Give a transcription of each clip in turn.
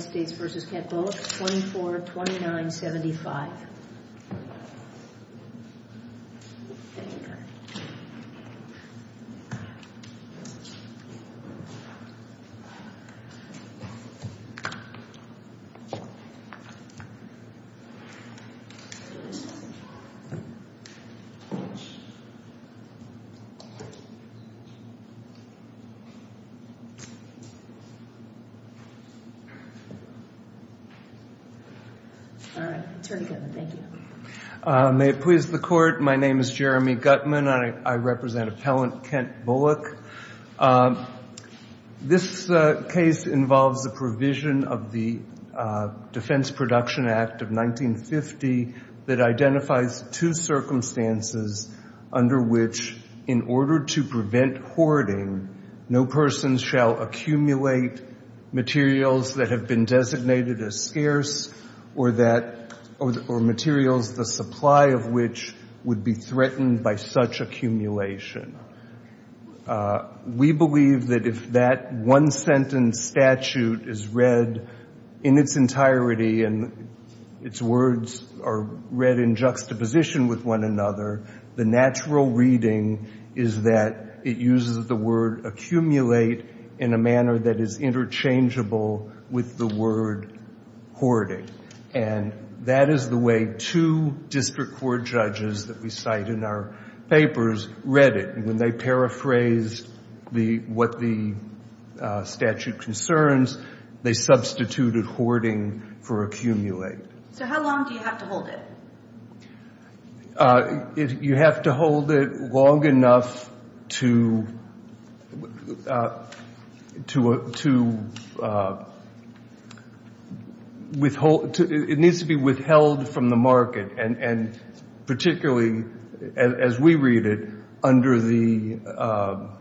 2429.75. Thank you very much. May it please the Court, my name is Jeremy Guttman, I represent Appellant Kent Bulloch. This case involves the provision of the Defense Production Act of 1950 that identifies two circumstances under which, in order to prevent hoarding, no person shall accumulate materials that have been designated as scarce or materials the supply of which would be threatened by such accumulation. We believe that if that one-sentence statute is read in its entirety and its words are read in juxtaposition with one another, the natural reading is that it uses the word accumulate in a manner that is interchangeable with the word hoarding. And that is the way two district court judges that we cite in our papers read it. When they paraphrased what the statute concerns, they substituted hoarding for accumulate. So how long do you have to hold it? You have to hold it long enough to withhold, it needs to be withheld from the market, and particularly, as we read it, under the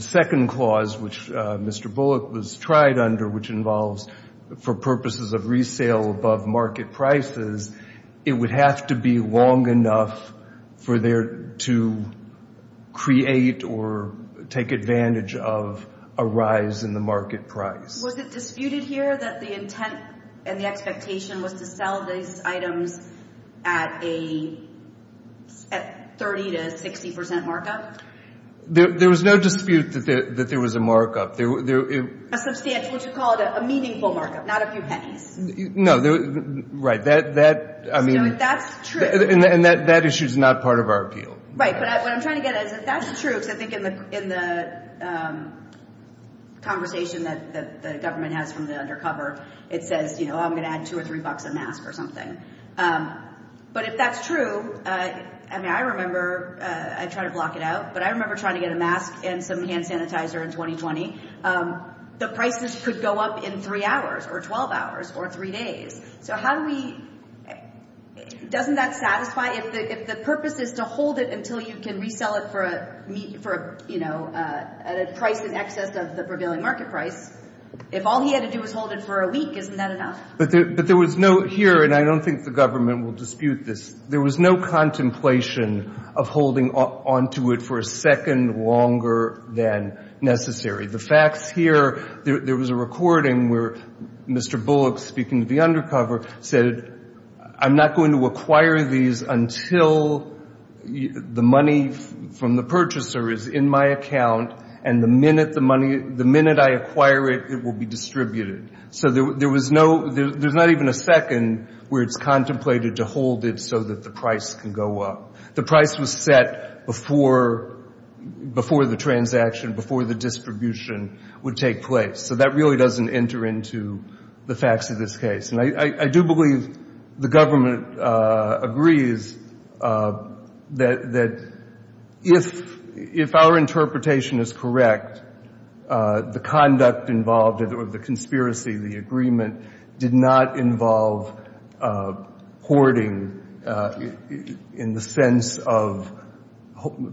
second clause which Mr. Bulloch was tried under which involves, for purposes of resale above market prices, it would have to be long enough for there to create or take advantage of a rise in the market price. Was it disputed here that the intent and the expectation was to sell these items at a 30 to 60% markup? There was no dispute that there was a markup. A substantial, which you call it a meaningful markup, not a few pennies. No, right. That's true. And that issue is not part of our appeal. Right, but what I'm trying to get at is if that's true, because I think in the conversation that the government has from the undercover, it says, you know, I'm going to add two or three bucks a mask or something. But if that's true, I mean, I remember, I try to block it out, but I remember trying to get a mask and some hand sanitizer in 2020. The prices could go up in three hours or 12 hours or three days. So how do we, doesn't that satisfy, if the purpose is to hold it until you can resell it for, you know, at a price in excess of the prevailing market price, if all he had to do was hold it for a week, isn't that enough? But there was no, here, and I don't think the government will dispute this, there was no contemplation of holding onto it for a second longer than necessary. The facts here, there was a recording where Mr. Bullock, speaking to the undercover, said, I'm not going to acquire these until the money from the purchaser is in my account, and the minute the money, the minute I acquire it, it will be distributed. So there was no, there's not even a second where it's contemplated to hold it so that the price can go up. The price was set before the transaction, before the distribution would take place. So that really doesn't enter into the facts of this case. And I do believe the government agrees that if our interpretation is correct, the conduct involved, or the conspiracy, the agreement, did not involve hoarding in the sense of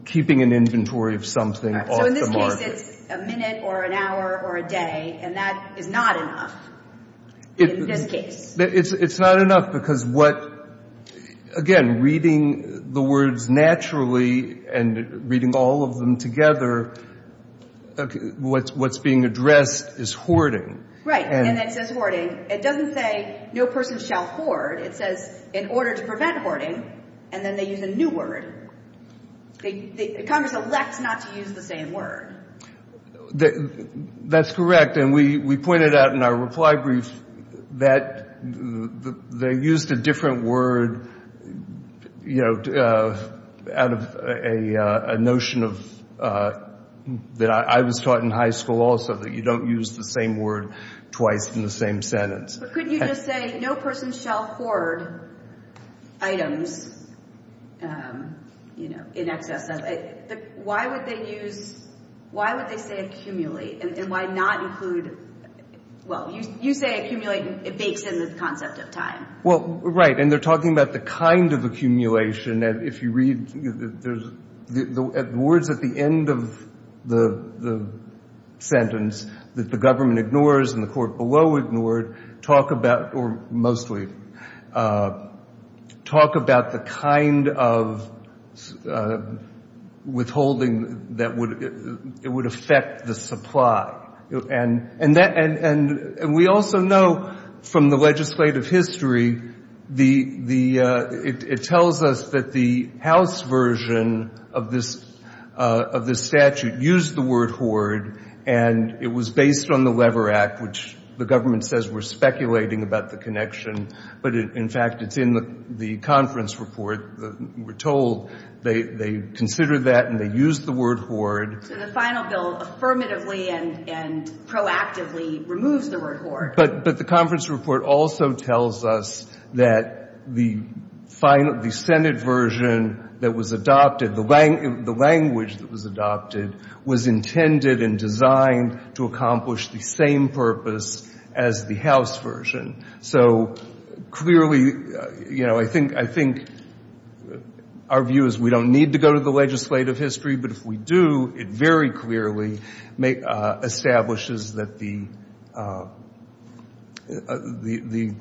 keeping an inventory of something off the market. So in this case, it's a minute or an hour or a day, and that is not enough in this case. It's not enough because what, again, reading the words naturally and reading all of them together, what's being addressed is hoarding. Right, and it says hoarding. It doesn't say no person shall hoard. It says in order to prevent hoarding, and then they use a new word. Congress elects not to use the same word. That's correct, and we pointed out in our reply brief that they used a different word, you know, out of a notion that I was taught in high school also, that you don't use the same word twice in the same sentence. But couldn't you just say no person shall hoard items, you know, in excess of, why would they use, why would they say accumulate, and why not include, well, you say accumulate, it bakes in the concept of time. Well, right, and they're talking about the kind of accumulation, and if you read, the words at the end of the sentence, that the government ignores and the court below ignored, talk about, or mostly, talk about the kind of withholding that would, it would affect the supply. And we also know from the legislative history, it tells us that the House version of this statute used the word hoard, and it was based on the Lever Act, which the government says we're speculating about the connection. But, in fact, it's in the conference report. We're told they considered that and they used the word hoard. So the final bill affirmatively and proactively removes the word hoard. But the conference report also tells us that the Senate version that was adopted, the language that was adopted, was intended and designed to accomplish the same purpose as the House version. So, clearly, you know, I think our view is we don't need to go to the legislative history, but if we do, it very clearly establishes that the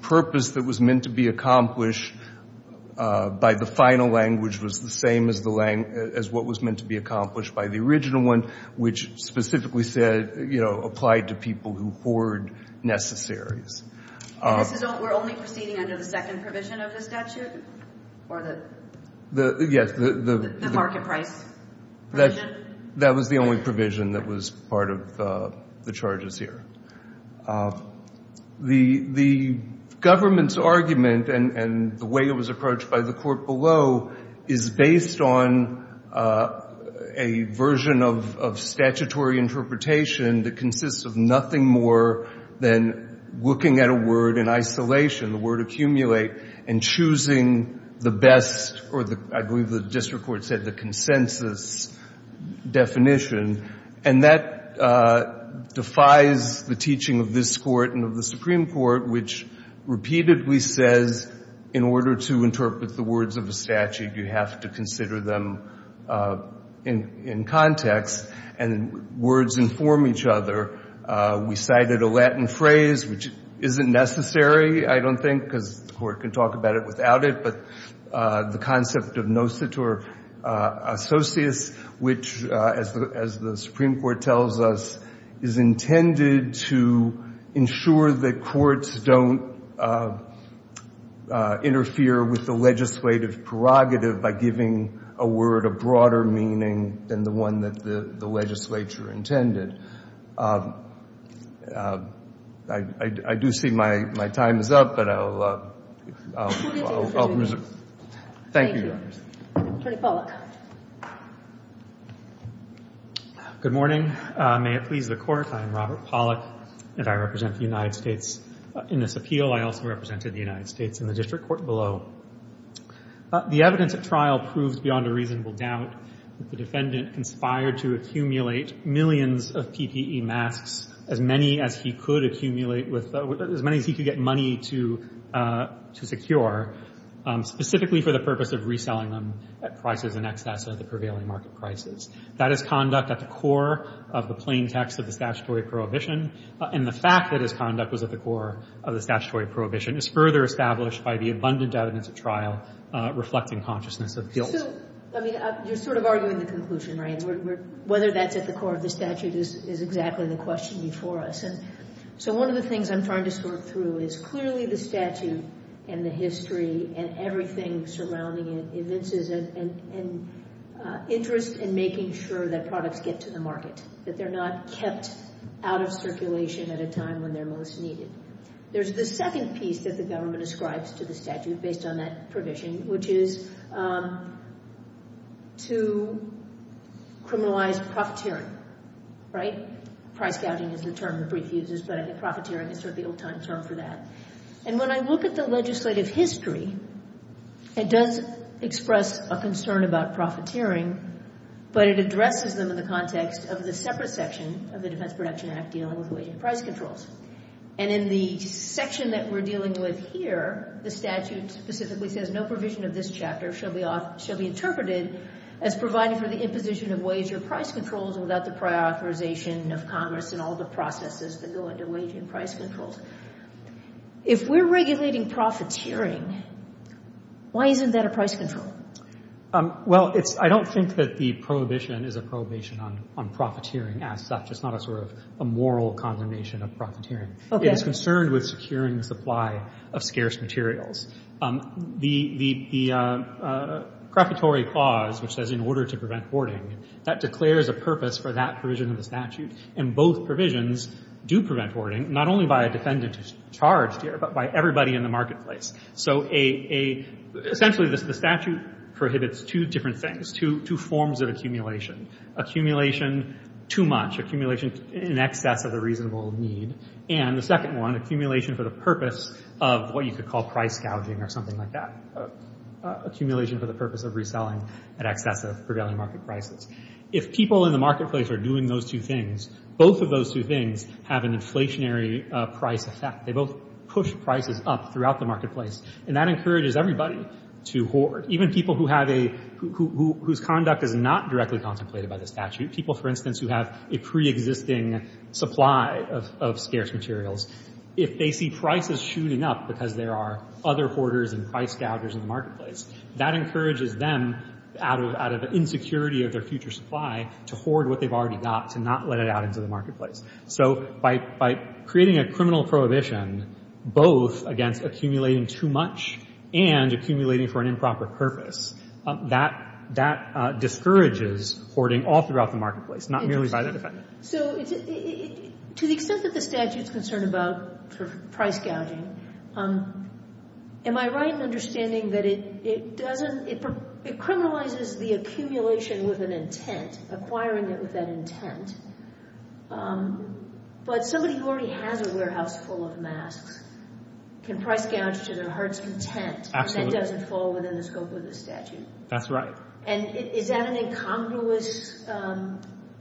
purpose that was meant to be accomplished by the final language was the same as what was meant to be accomplished by the original one, which specifically said, you know, applied to people who hoard necessaries. We're only proceeding under the second provision of the statute? Yes. The market price provision? That was the only provision that was part of the charges here. The government's argument and the way it was approached by the court below is based on a version of statutory interpretation that consists of nothing more than looking at a word in isolation, the word accumulate, and choosing the best or, I believe the district court said, the consensus definition. And that defies the teaching of this court and of the Supreme Court, which repeatedly says in order to interpret the words of a statute, you have to consider them in context and words inform each other. We cited a Latin phrase, which isn't necessary, I don't think, because the court can talk about it without it, but the concept of nositur associates, which, as the Supreme Court tells us, is intended to ensure that courts don't interfere with the legislative prerogative by giving a word a broader meaning than the one that the legislature intended. I do see my time is up, but I'll reserve it. Thank you, Your Honors. Attorney Pollack. Good morning. May it please the Court. I am Robert Pollack, and I represent the United States in this appeal. I also represented the United States in the district court below. The evidence at trial proves beyond a reasonable doubt that the defendant conspired to accumulate millions of PPE masks, as many as he could accumulate, as many as he could get money to secure, specifically for the purpose of reselling them at prices in excess of the prevailing market prices. That is conduct at the core of the plain text of the statutory prohibition, and the fact that his conduct was at the core of the statutory prohibition is further established by the abundant evidence at trial reflecting consciousness of guilt. So, I mean, you're sort of arguing the conclusion, right? Whether that's at the core of the statute is exactly the question before us. And so one of the things I'm trying to sort through is clearly the statute and the history and everything surrounding it evinces an interest in making sure that products get to the market, that they're not kept out of circulation at a time when they're most needed. There's the second piece that the government ascribes to the statute based on that provision, which is to criminalize profiteering, right? Price gouging is the term the brief uses, but I think profiteering is sort of the old-time term for that. And when I look at the legislative history, it does express a concern about profiteering, but it addresses them in the context of the separate section of the Defense Production Act dealing with wage and price controls. And in the section that we're dealing with here, the statute specifically says, no provision of this chapter shall be interpreted as providing for the imposition of wage or price controls without the prior authorization of Congress and all the processes that go into wage and price controls. If we're regulating profiteering, why isn't that a price control? Well, I don't think that the prohibition is a prohibition on profiteering as such. It's not a sort of a moral condemnation of profiteering. It is concerned with securing the supply of scarce materials. The prefatory clause, which says in order to prevent hoarding, that declares a purpose for that provision of the statute, and both provisions do prevent hoarding, not only by a defendant who's charged here, but by everybody in the marketplace. So essentially the statute prohibits two different things, two forms of accumulation. Accumulation too much, accumulation in excess of the reasonable need, and the second one, accumulation for the purpose of what you could call price gouging or something like that. Accumulation for the purpose of reselling in excess of prevailing market prices. If people in the marketplace are doing those two things, both of those two things have an inflationary price effect. They both push prices up throughout the marketplace, and that encourages everybody to hoard, even people whose conduct is not directly contemplated by the statute, people, for instance, who have a preexisting supply of scarce materials. If they see prices shooting up because there are other hoarders and price gougers in the marketplace, that encourages them, out of insecurity of their future supply, to hoard what they've already got, to not let it out into the marketplace. So by creating a criminal prohibition, both against accumulating too much and accumulating for an improper purpose, that discourages hoarding all throughout the marketplace, not merely by the defendant. So to the extent that the statute's concerned about price gouging, am I right in understanding that it criminalizes the accumulation with an intent, acquiring it with an intent, but somebody who already has a warehouse full of masks can price gouge to their heart's content, and that doesn't fall within the scope of the statute? That's right. And is that an incongruous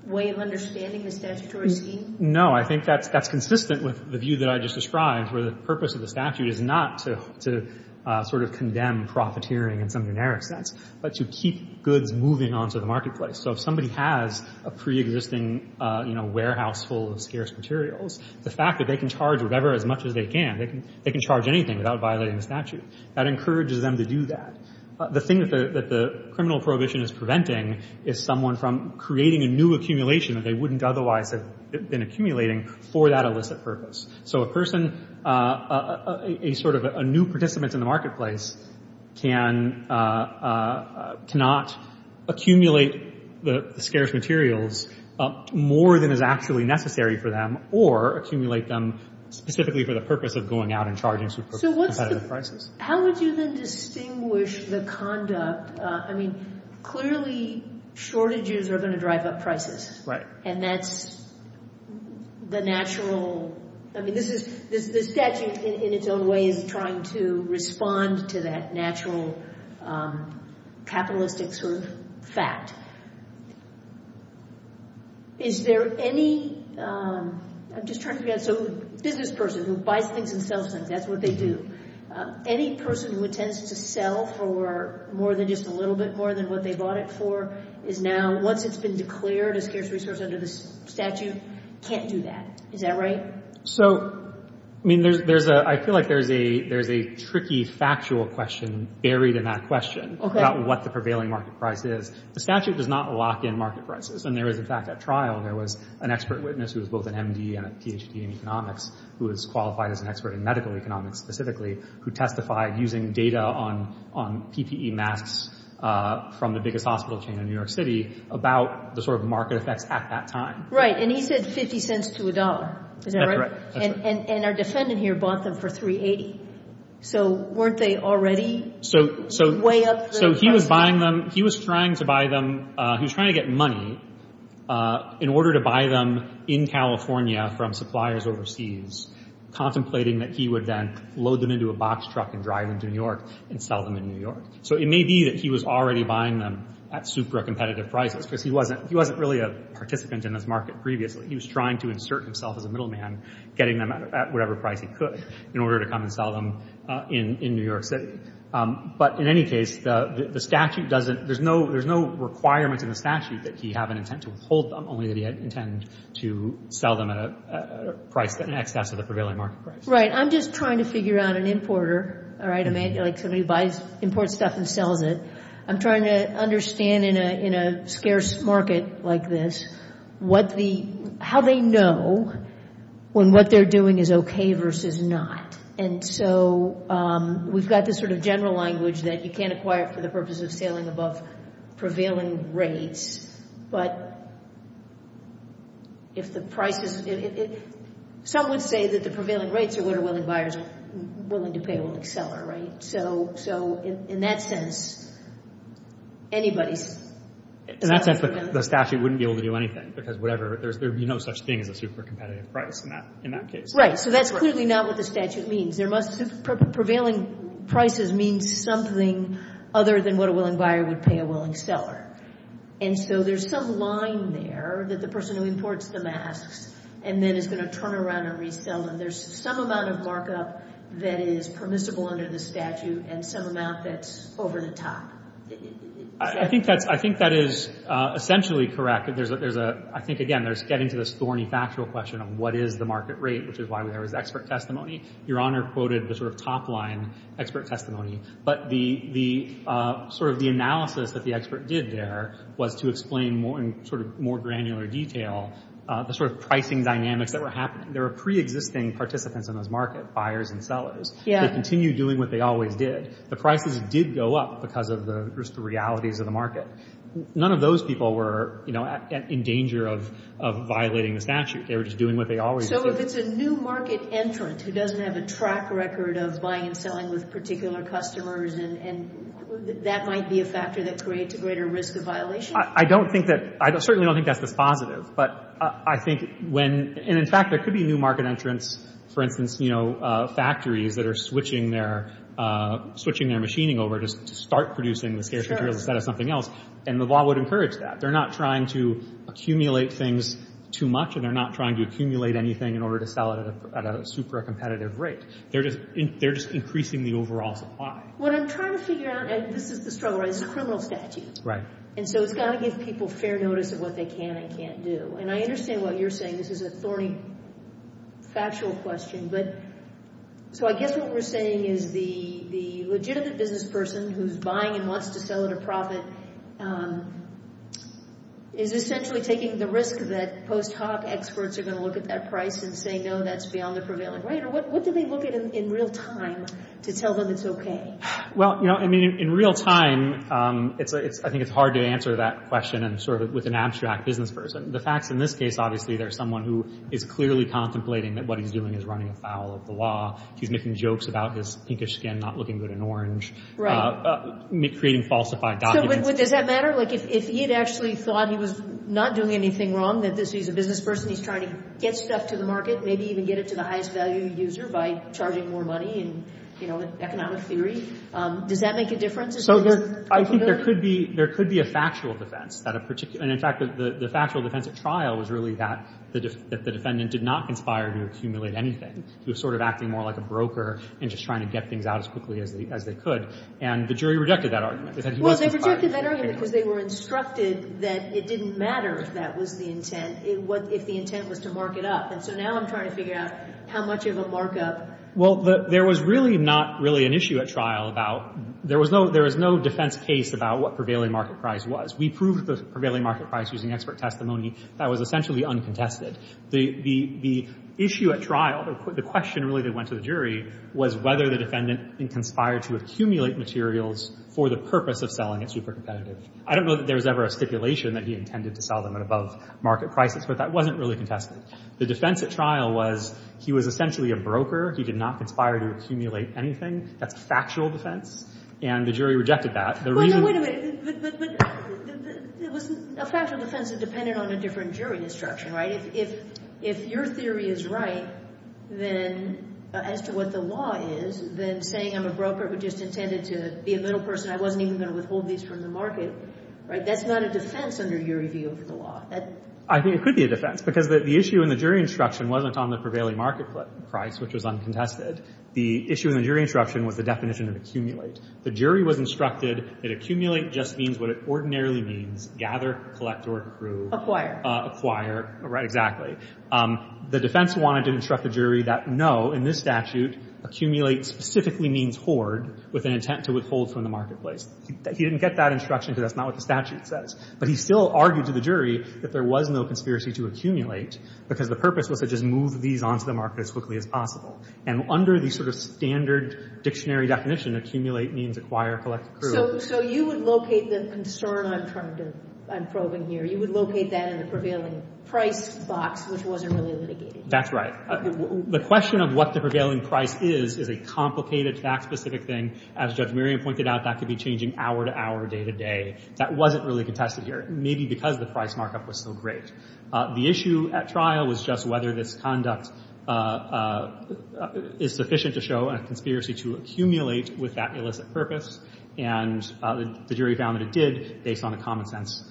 way of understanding the statutory scheme? No, I think that's consistent with the view that I just described, where the purpose of the statute is not to sort of condemn profiteering in some generic sense, but to keep goods moving onto the marketplace. So if somebody has a preexisting warehouse full of scarce materials, the fact that they can charge whatever as much as they can, they can charge anything without violating the statute, that encourages them to do that. The thing that the criminal prohibition is preventing is someone from creating a new accumulation that they wouldn't otherwise have been accumulating for that illicit purpose. So a person, a sort of new participant in the marketplace, cannot accumulate the scarce materials more than is actually necessary for them or accumulate them specifically for the purpose of going out and charging super competitive prices. So how would you then distinguish the conduct? I mean, clearly shortages are going to drive up prices. Right. And that's the natural, I mean, this is, the statute in its own way is trying to respond to that natural capitalistic sort of fact. Is there any, I'm just trying to figure out, so business person who buys things and sells things, that's what they do. Any person who intends to sell for more than just a little bit, more than what they bought it for is now, once it's been declared a scarce resource under the statute, can't do that. Is that right? So, I mean, there's a, I feel like there's a tricky factual question buried in that question about what the prevailing market price is. The statute does not lock in market prices. And there is, in fact, at trial, there was an expert witness who was both an M.D. and a Ph.D. in economics who was qualified as an expert in medical economics specifically who testified using data on PPE masks from the biggest hospital chain in New York City about the sort of market effects at that time. Right. And he said 50 cents to a dollar. Is that right? That's correct. And our defendant here bought them for 380. So weren't they already way up the price? So he was buying them. He was trying to buy them. He was trying to get money in order to buy them in California from suppliers overseas, contemplating that he would then load them into a box truck and drive them to New York and sell them in New York. So it may be that he was already buying them at super competitive prices because he wasn't really a participant in this market previously. He was trying to insert himself as a middleman, getting them at whatever price he could in order to come and sell them in New York City. But in any case, the statute doesn't – there's no requirement in the statute that he have an intent to withhold them, only that he had intent to sell them at an excess of the prevailing market price. Right. I'm just trying to figure out an importer, all right, like somebody who buys – imports stuff and sells it. I'm trying to understand in a scarce market like this what the – how they know when what they're doing is okay versus not. And so we've got this sort of general language that you can't acquire for the purpose of sailing above prevailing rates, but if the price is – some would say that the prevailing rates are what a willing buyer is willing to pay, a willing seller, right? So in that sense, anybody's – In that sense, the statute wouldn't be able to do anything because whatever – there would be no such thing as a super competitive price in that case. Right. So that's clearly not what the statute means. There must – prevailing prices means something other than what a willing buyer would pay a willing seller. And so there's some line there that the person who imports the masks and then is going to turn around and resell them, there's some amount of markup that is permissible under the statute and some amount that's over the top. I think that's – I think that is essentially correct. There's a – I think, again, there's getting to this thorny factual question of what is the market rate, which is why there is expert testimony. Your Honor quoted the sort of top line expert testimony, but the sort of the analysis that the expert did there was to explain in sort of more granular detail the sort of pricing dynamics that were happening. There were preexisting participants in those markets, buyers and sellers. They continued doing what they always did. The prices did go up because of the realities of the market. None of those people were in danger of violating the statute. They were just doing what they always did. So if it's a new market entrant who doesn't have a track record of buying and selling with particular customers, that might be a factor that creates a greater risk of violation? I don't think that – I certainly don't think that's this positive. But I think when – and, in fact, there could be new market entrants, for instance, you know, factories that are switching their machining over to start producing the scarce materials instead of something else, and the law would encourage that. They're not trying to accumulate things too much and they're not trying to accumulate anything in order to sell it at a super competitive rate. They're just increasing the overall supply. What I'm trying to figure out – and this is the struggle, right? It's a criminal statute. Right. And so it's got to give people fair notice of what they can and can't do. And I understand what you're saying. This is a thorny factual question. But – so I guess what we're saying is the legitimate business person who's buying and wants to sell at a profit is essentially taking the risk that post hoc experts are going to look at that price and say, no, that's beyond the prevailing rate. Or what do they look at in real time to tell them it's okay? Well, you know, I mean, in real time, I think it's hard to answer that question and sort of with an abstract business person. The facts in this case, obviously, there's someone who is clearly contemplating that what he's doing is running afoul of the law. He's making jokes about his pinkish skin not looking good in orange. Right. Creating falsified documents. So does that matter? Like if he had actually thought he was not doing anything wrong, that he's a business person, he's trying to get stuff to the market, maybe even get it to the highest value user by charging more money, and, you know, economic theory, does that make a difference? I think there could be a factual defense. And, in fact, the factual defense at trial was really that the defendant did not conspire to accumulate anything. He was sort of acting more like a broker and just trying to get things out as quickly as they could. And the jury rejected that argument. Well, they rejected that argument because they were instructed that it didn't matter if that was the intent, if the intent was to mark it up. And so now I'm trying to figure out how much of a markup. Well, there was really not really an issue at trial about there was no defense case about what prevailing market price was. We proved the prevailing market price using expert testimony. That was essentially uncontested. The issue at trial, the question really that went to the jury, was whether the defendant conspired to accumulate materials for the purpose of selling it super competitive. I don't know that there was ever a stipulation that he intended to sell them at above market prices, but that wasn't really contested. The defense at trial was he was essentially a broker. He did not conspire to accumulate anything. That's a factual defense. And the jury rejected that. The reason... Wait a minute. A factual defense is dependent on a different jury instruction, right? If your theory is right, then, as to what the law is, then saying I'm a broker but just intended to be a middle person, I wasn't even going to withhold these from the market, right, that's not a defense under your review of the law. I think it could be a defense because the issue in the jury instruction wasn't on the prevailing market price, which was uncontested. The issue in the jury instruction was the definition of accumulate. The jury was instructed that accumulate just means what it ordinarily means, gather, collect, or accrue. Right, exactly. The defense wanted to instruct the jury that, no, in this statute, accumulate specifically means hoard with an intent to withhold from the marketplace. He didn't get that instruction because that's not what the statute says. But he still argued to the jury that there was no conspiracy to accumulate because the purpose was to just move these onto the market as quickly as possible. And under the sort of standard dictionary definition, accumulate means acquire, collect, accrue. So you would locate the concern I'm probing here, you would locate that in the prevailing price box, which wasn't really litigated. That's right. The question of what the prevailing price is is a complicated, fact-specific thing. As Judge Merriam pointed out, that could be changing hour to hour, day to day. That wasn't really contested here, maybe because the price markup was so great. The issue at trial was just whether this conduct is sufficient to show a conspiracy to accumulate with that illicit purpose. And the jury found that it did based on the common sense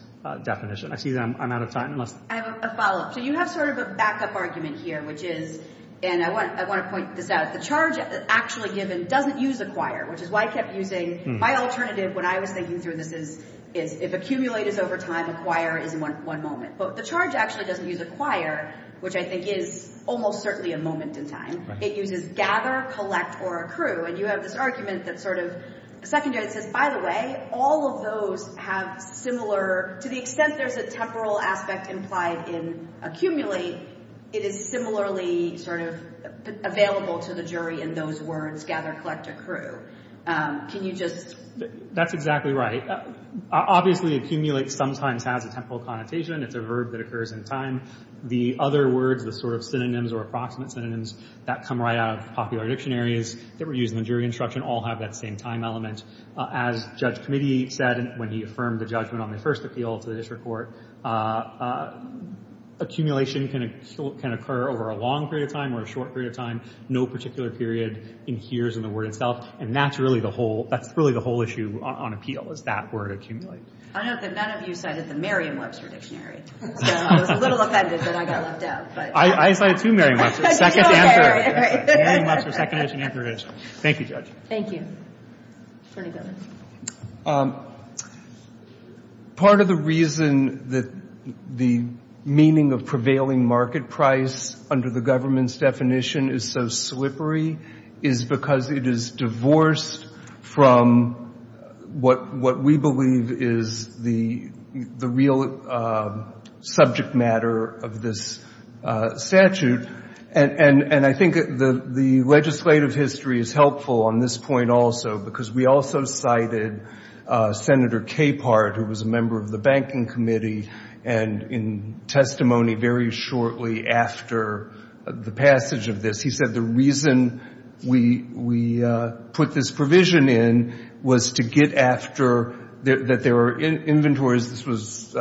definition. Excuse me, I'm out of time. I have a follow-up. So you have sort of a backup argument here, which is, and I want to point this out, the charge actually given doesn't use acquire, which is why I kept using my alternative when I was thinking through this, is if accumulate is over time, acquire is in one moment. But the charge actually doesn't use acquire, which I think is almost certainly a moment in time. It uses gather, collect, or accrue. And you have this argument that's sort of secondary. It says, by the way, all of those have similar, to the extent there's a temporal aspect implied in accumulate, it is similarly sort of available to the jury in those words, gather, collect, accrue. Can you just... That's exactly right. Obviously, accumulate sometimes has a temporal connotation. It's a verb that occurs in time. The other words, the sort of synonyms or approximate synonyms that come right out of popular dictionaries that were used in the jury instruction all have that same time element. As Judge Committee said when he affirmed the judgment on the first appeal to the district court, accumulation can occur over a long period of time or a short period of time. No particular period adheres in the word itself. And that's really the whole issue on appeal, is that word accumulate. I note that none of you cited the Merriam-Webster dictionary. So I was a little offended that I got left out. I cited, too, Merriam-Webster. Second answer. Merriam-Webster, second issue, new jurisdiction. Thank you, Judge. Thank you. Attorney General. Part of the reason that the meaning of prevailing market price under the government's definition is so slippery is because it is divorced from what we believe is the real subject matter of this statute. And I think the legislative history is helpful on this point also because we also cited Senator Capehart, who was a member of the Banking Committee, and in testimony very shortly after the passage of this, he said the reason we put this provision in was to get after that there were inventories. This was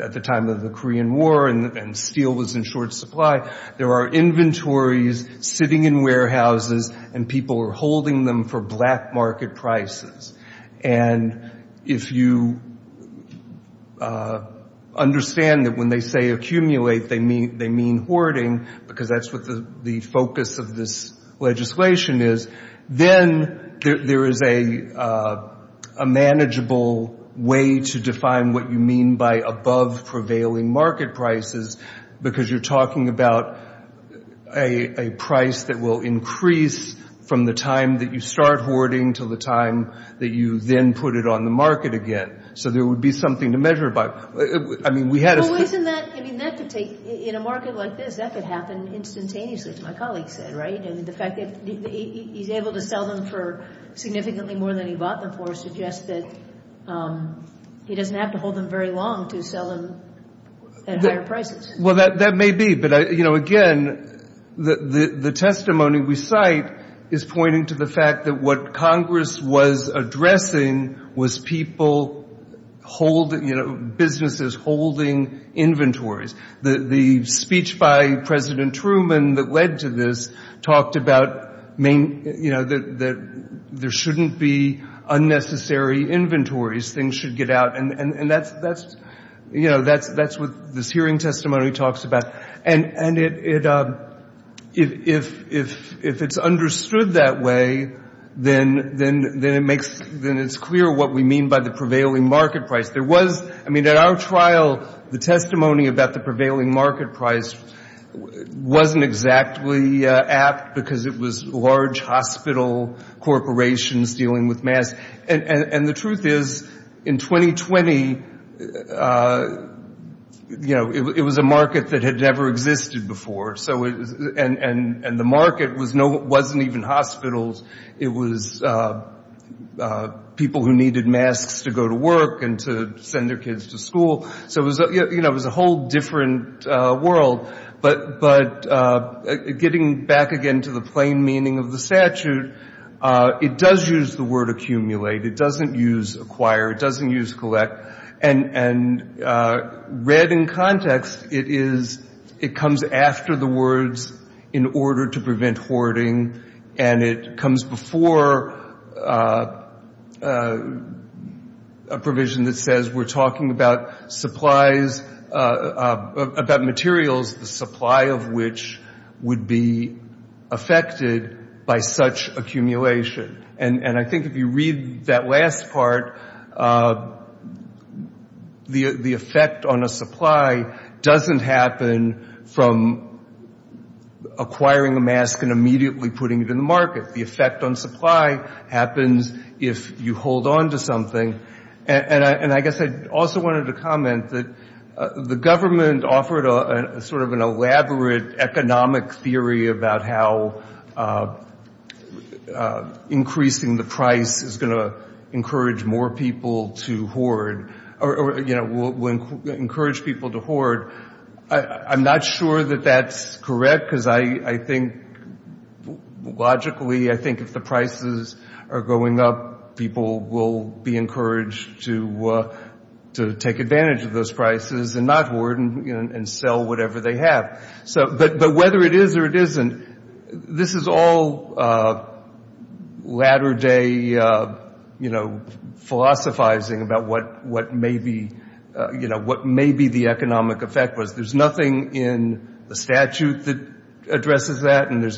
at the time of the Korean War, and steel was in short supply. There are inventories sitting in warehouses, and people are holding them for black market prices. And if you understand that when they say accumulate they mean hoarding, because that's what the focus of this legislation is, then there is a manageable way to define what you mean by above-prevailing market prices because you're talking about a price that will increase from the time that you start hoarding to the time that you then put it on the market again. So there would be something to measure by. I mean, we had a... Well, isn't that, I mean, that could take, in a market like this, that could happen instantaneously, as my colleague said, right? I mean, the fact that he's able to sell them for significantly more than he bought them for suggests that he doesn't have to hold them very long to sell them at higher prices. Well, that may be. But, you know, again, the testimony we cite is pointing to the fact that what Congress was addressing was people holding, you know, businesses holding inventories. The speech by President Truman that led to this talked about, you know, that there shouldn't be unnecessary inventories. Things should get out. And, you know, that's what this hearing testimony talks about. And if it's understood that way, then it's clear what we mean by the prevailing market price. I mean, at our trial, the testimony about the prevailing market price wasn't exactly apt because it was large hospital corporations dealing with masks. And the truth is, in 2020, you know, it was a market that had never existed before. And the market wasn't even hospitals. It was people who needed masks to go to work and to send their kids to school. So, you know, it was a whole different world. But getting back again to the plain meaning of the statute, it does use the word accumulate. It doesn't use acquire. It doesn't use collect. And read in context, it comes after the words in order to prevent hoarding. And it comes before a provision that says we're talking about supplies, about materials, the supply of which would be affected by such accumulation. And I think if you read that last part, the effect on a supply doesn't happen from acquiring a mask and immediately putting it in the market. The effect on supply happens if you hold on to something. And I guess I also wanted to comment that the government offered sort of an elaborate economic theory about how increasing the price is going to encourage more people to hoard or, you know, will encourage people to hoard. I'm not sure that that's correct because I think logically I think if the prices are going up, people will be encouraged to take advantage of those prices and not hoard and sell whatever they have. But whether it is or it isn't, this is all latter-day, you know, philosophizing about what may be the economic effect was. There's nothing in the statute that addresses that, and there's nothing in the statute that addresses that.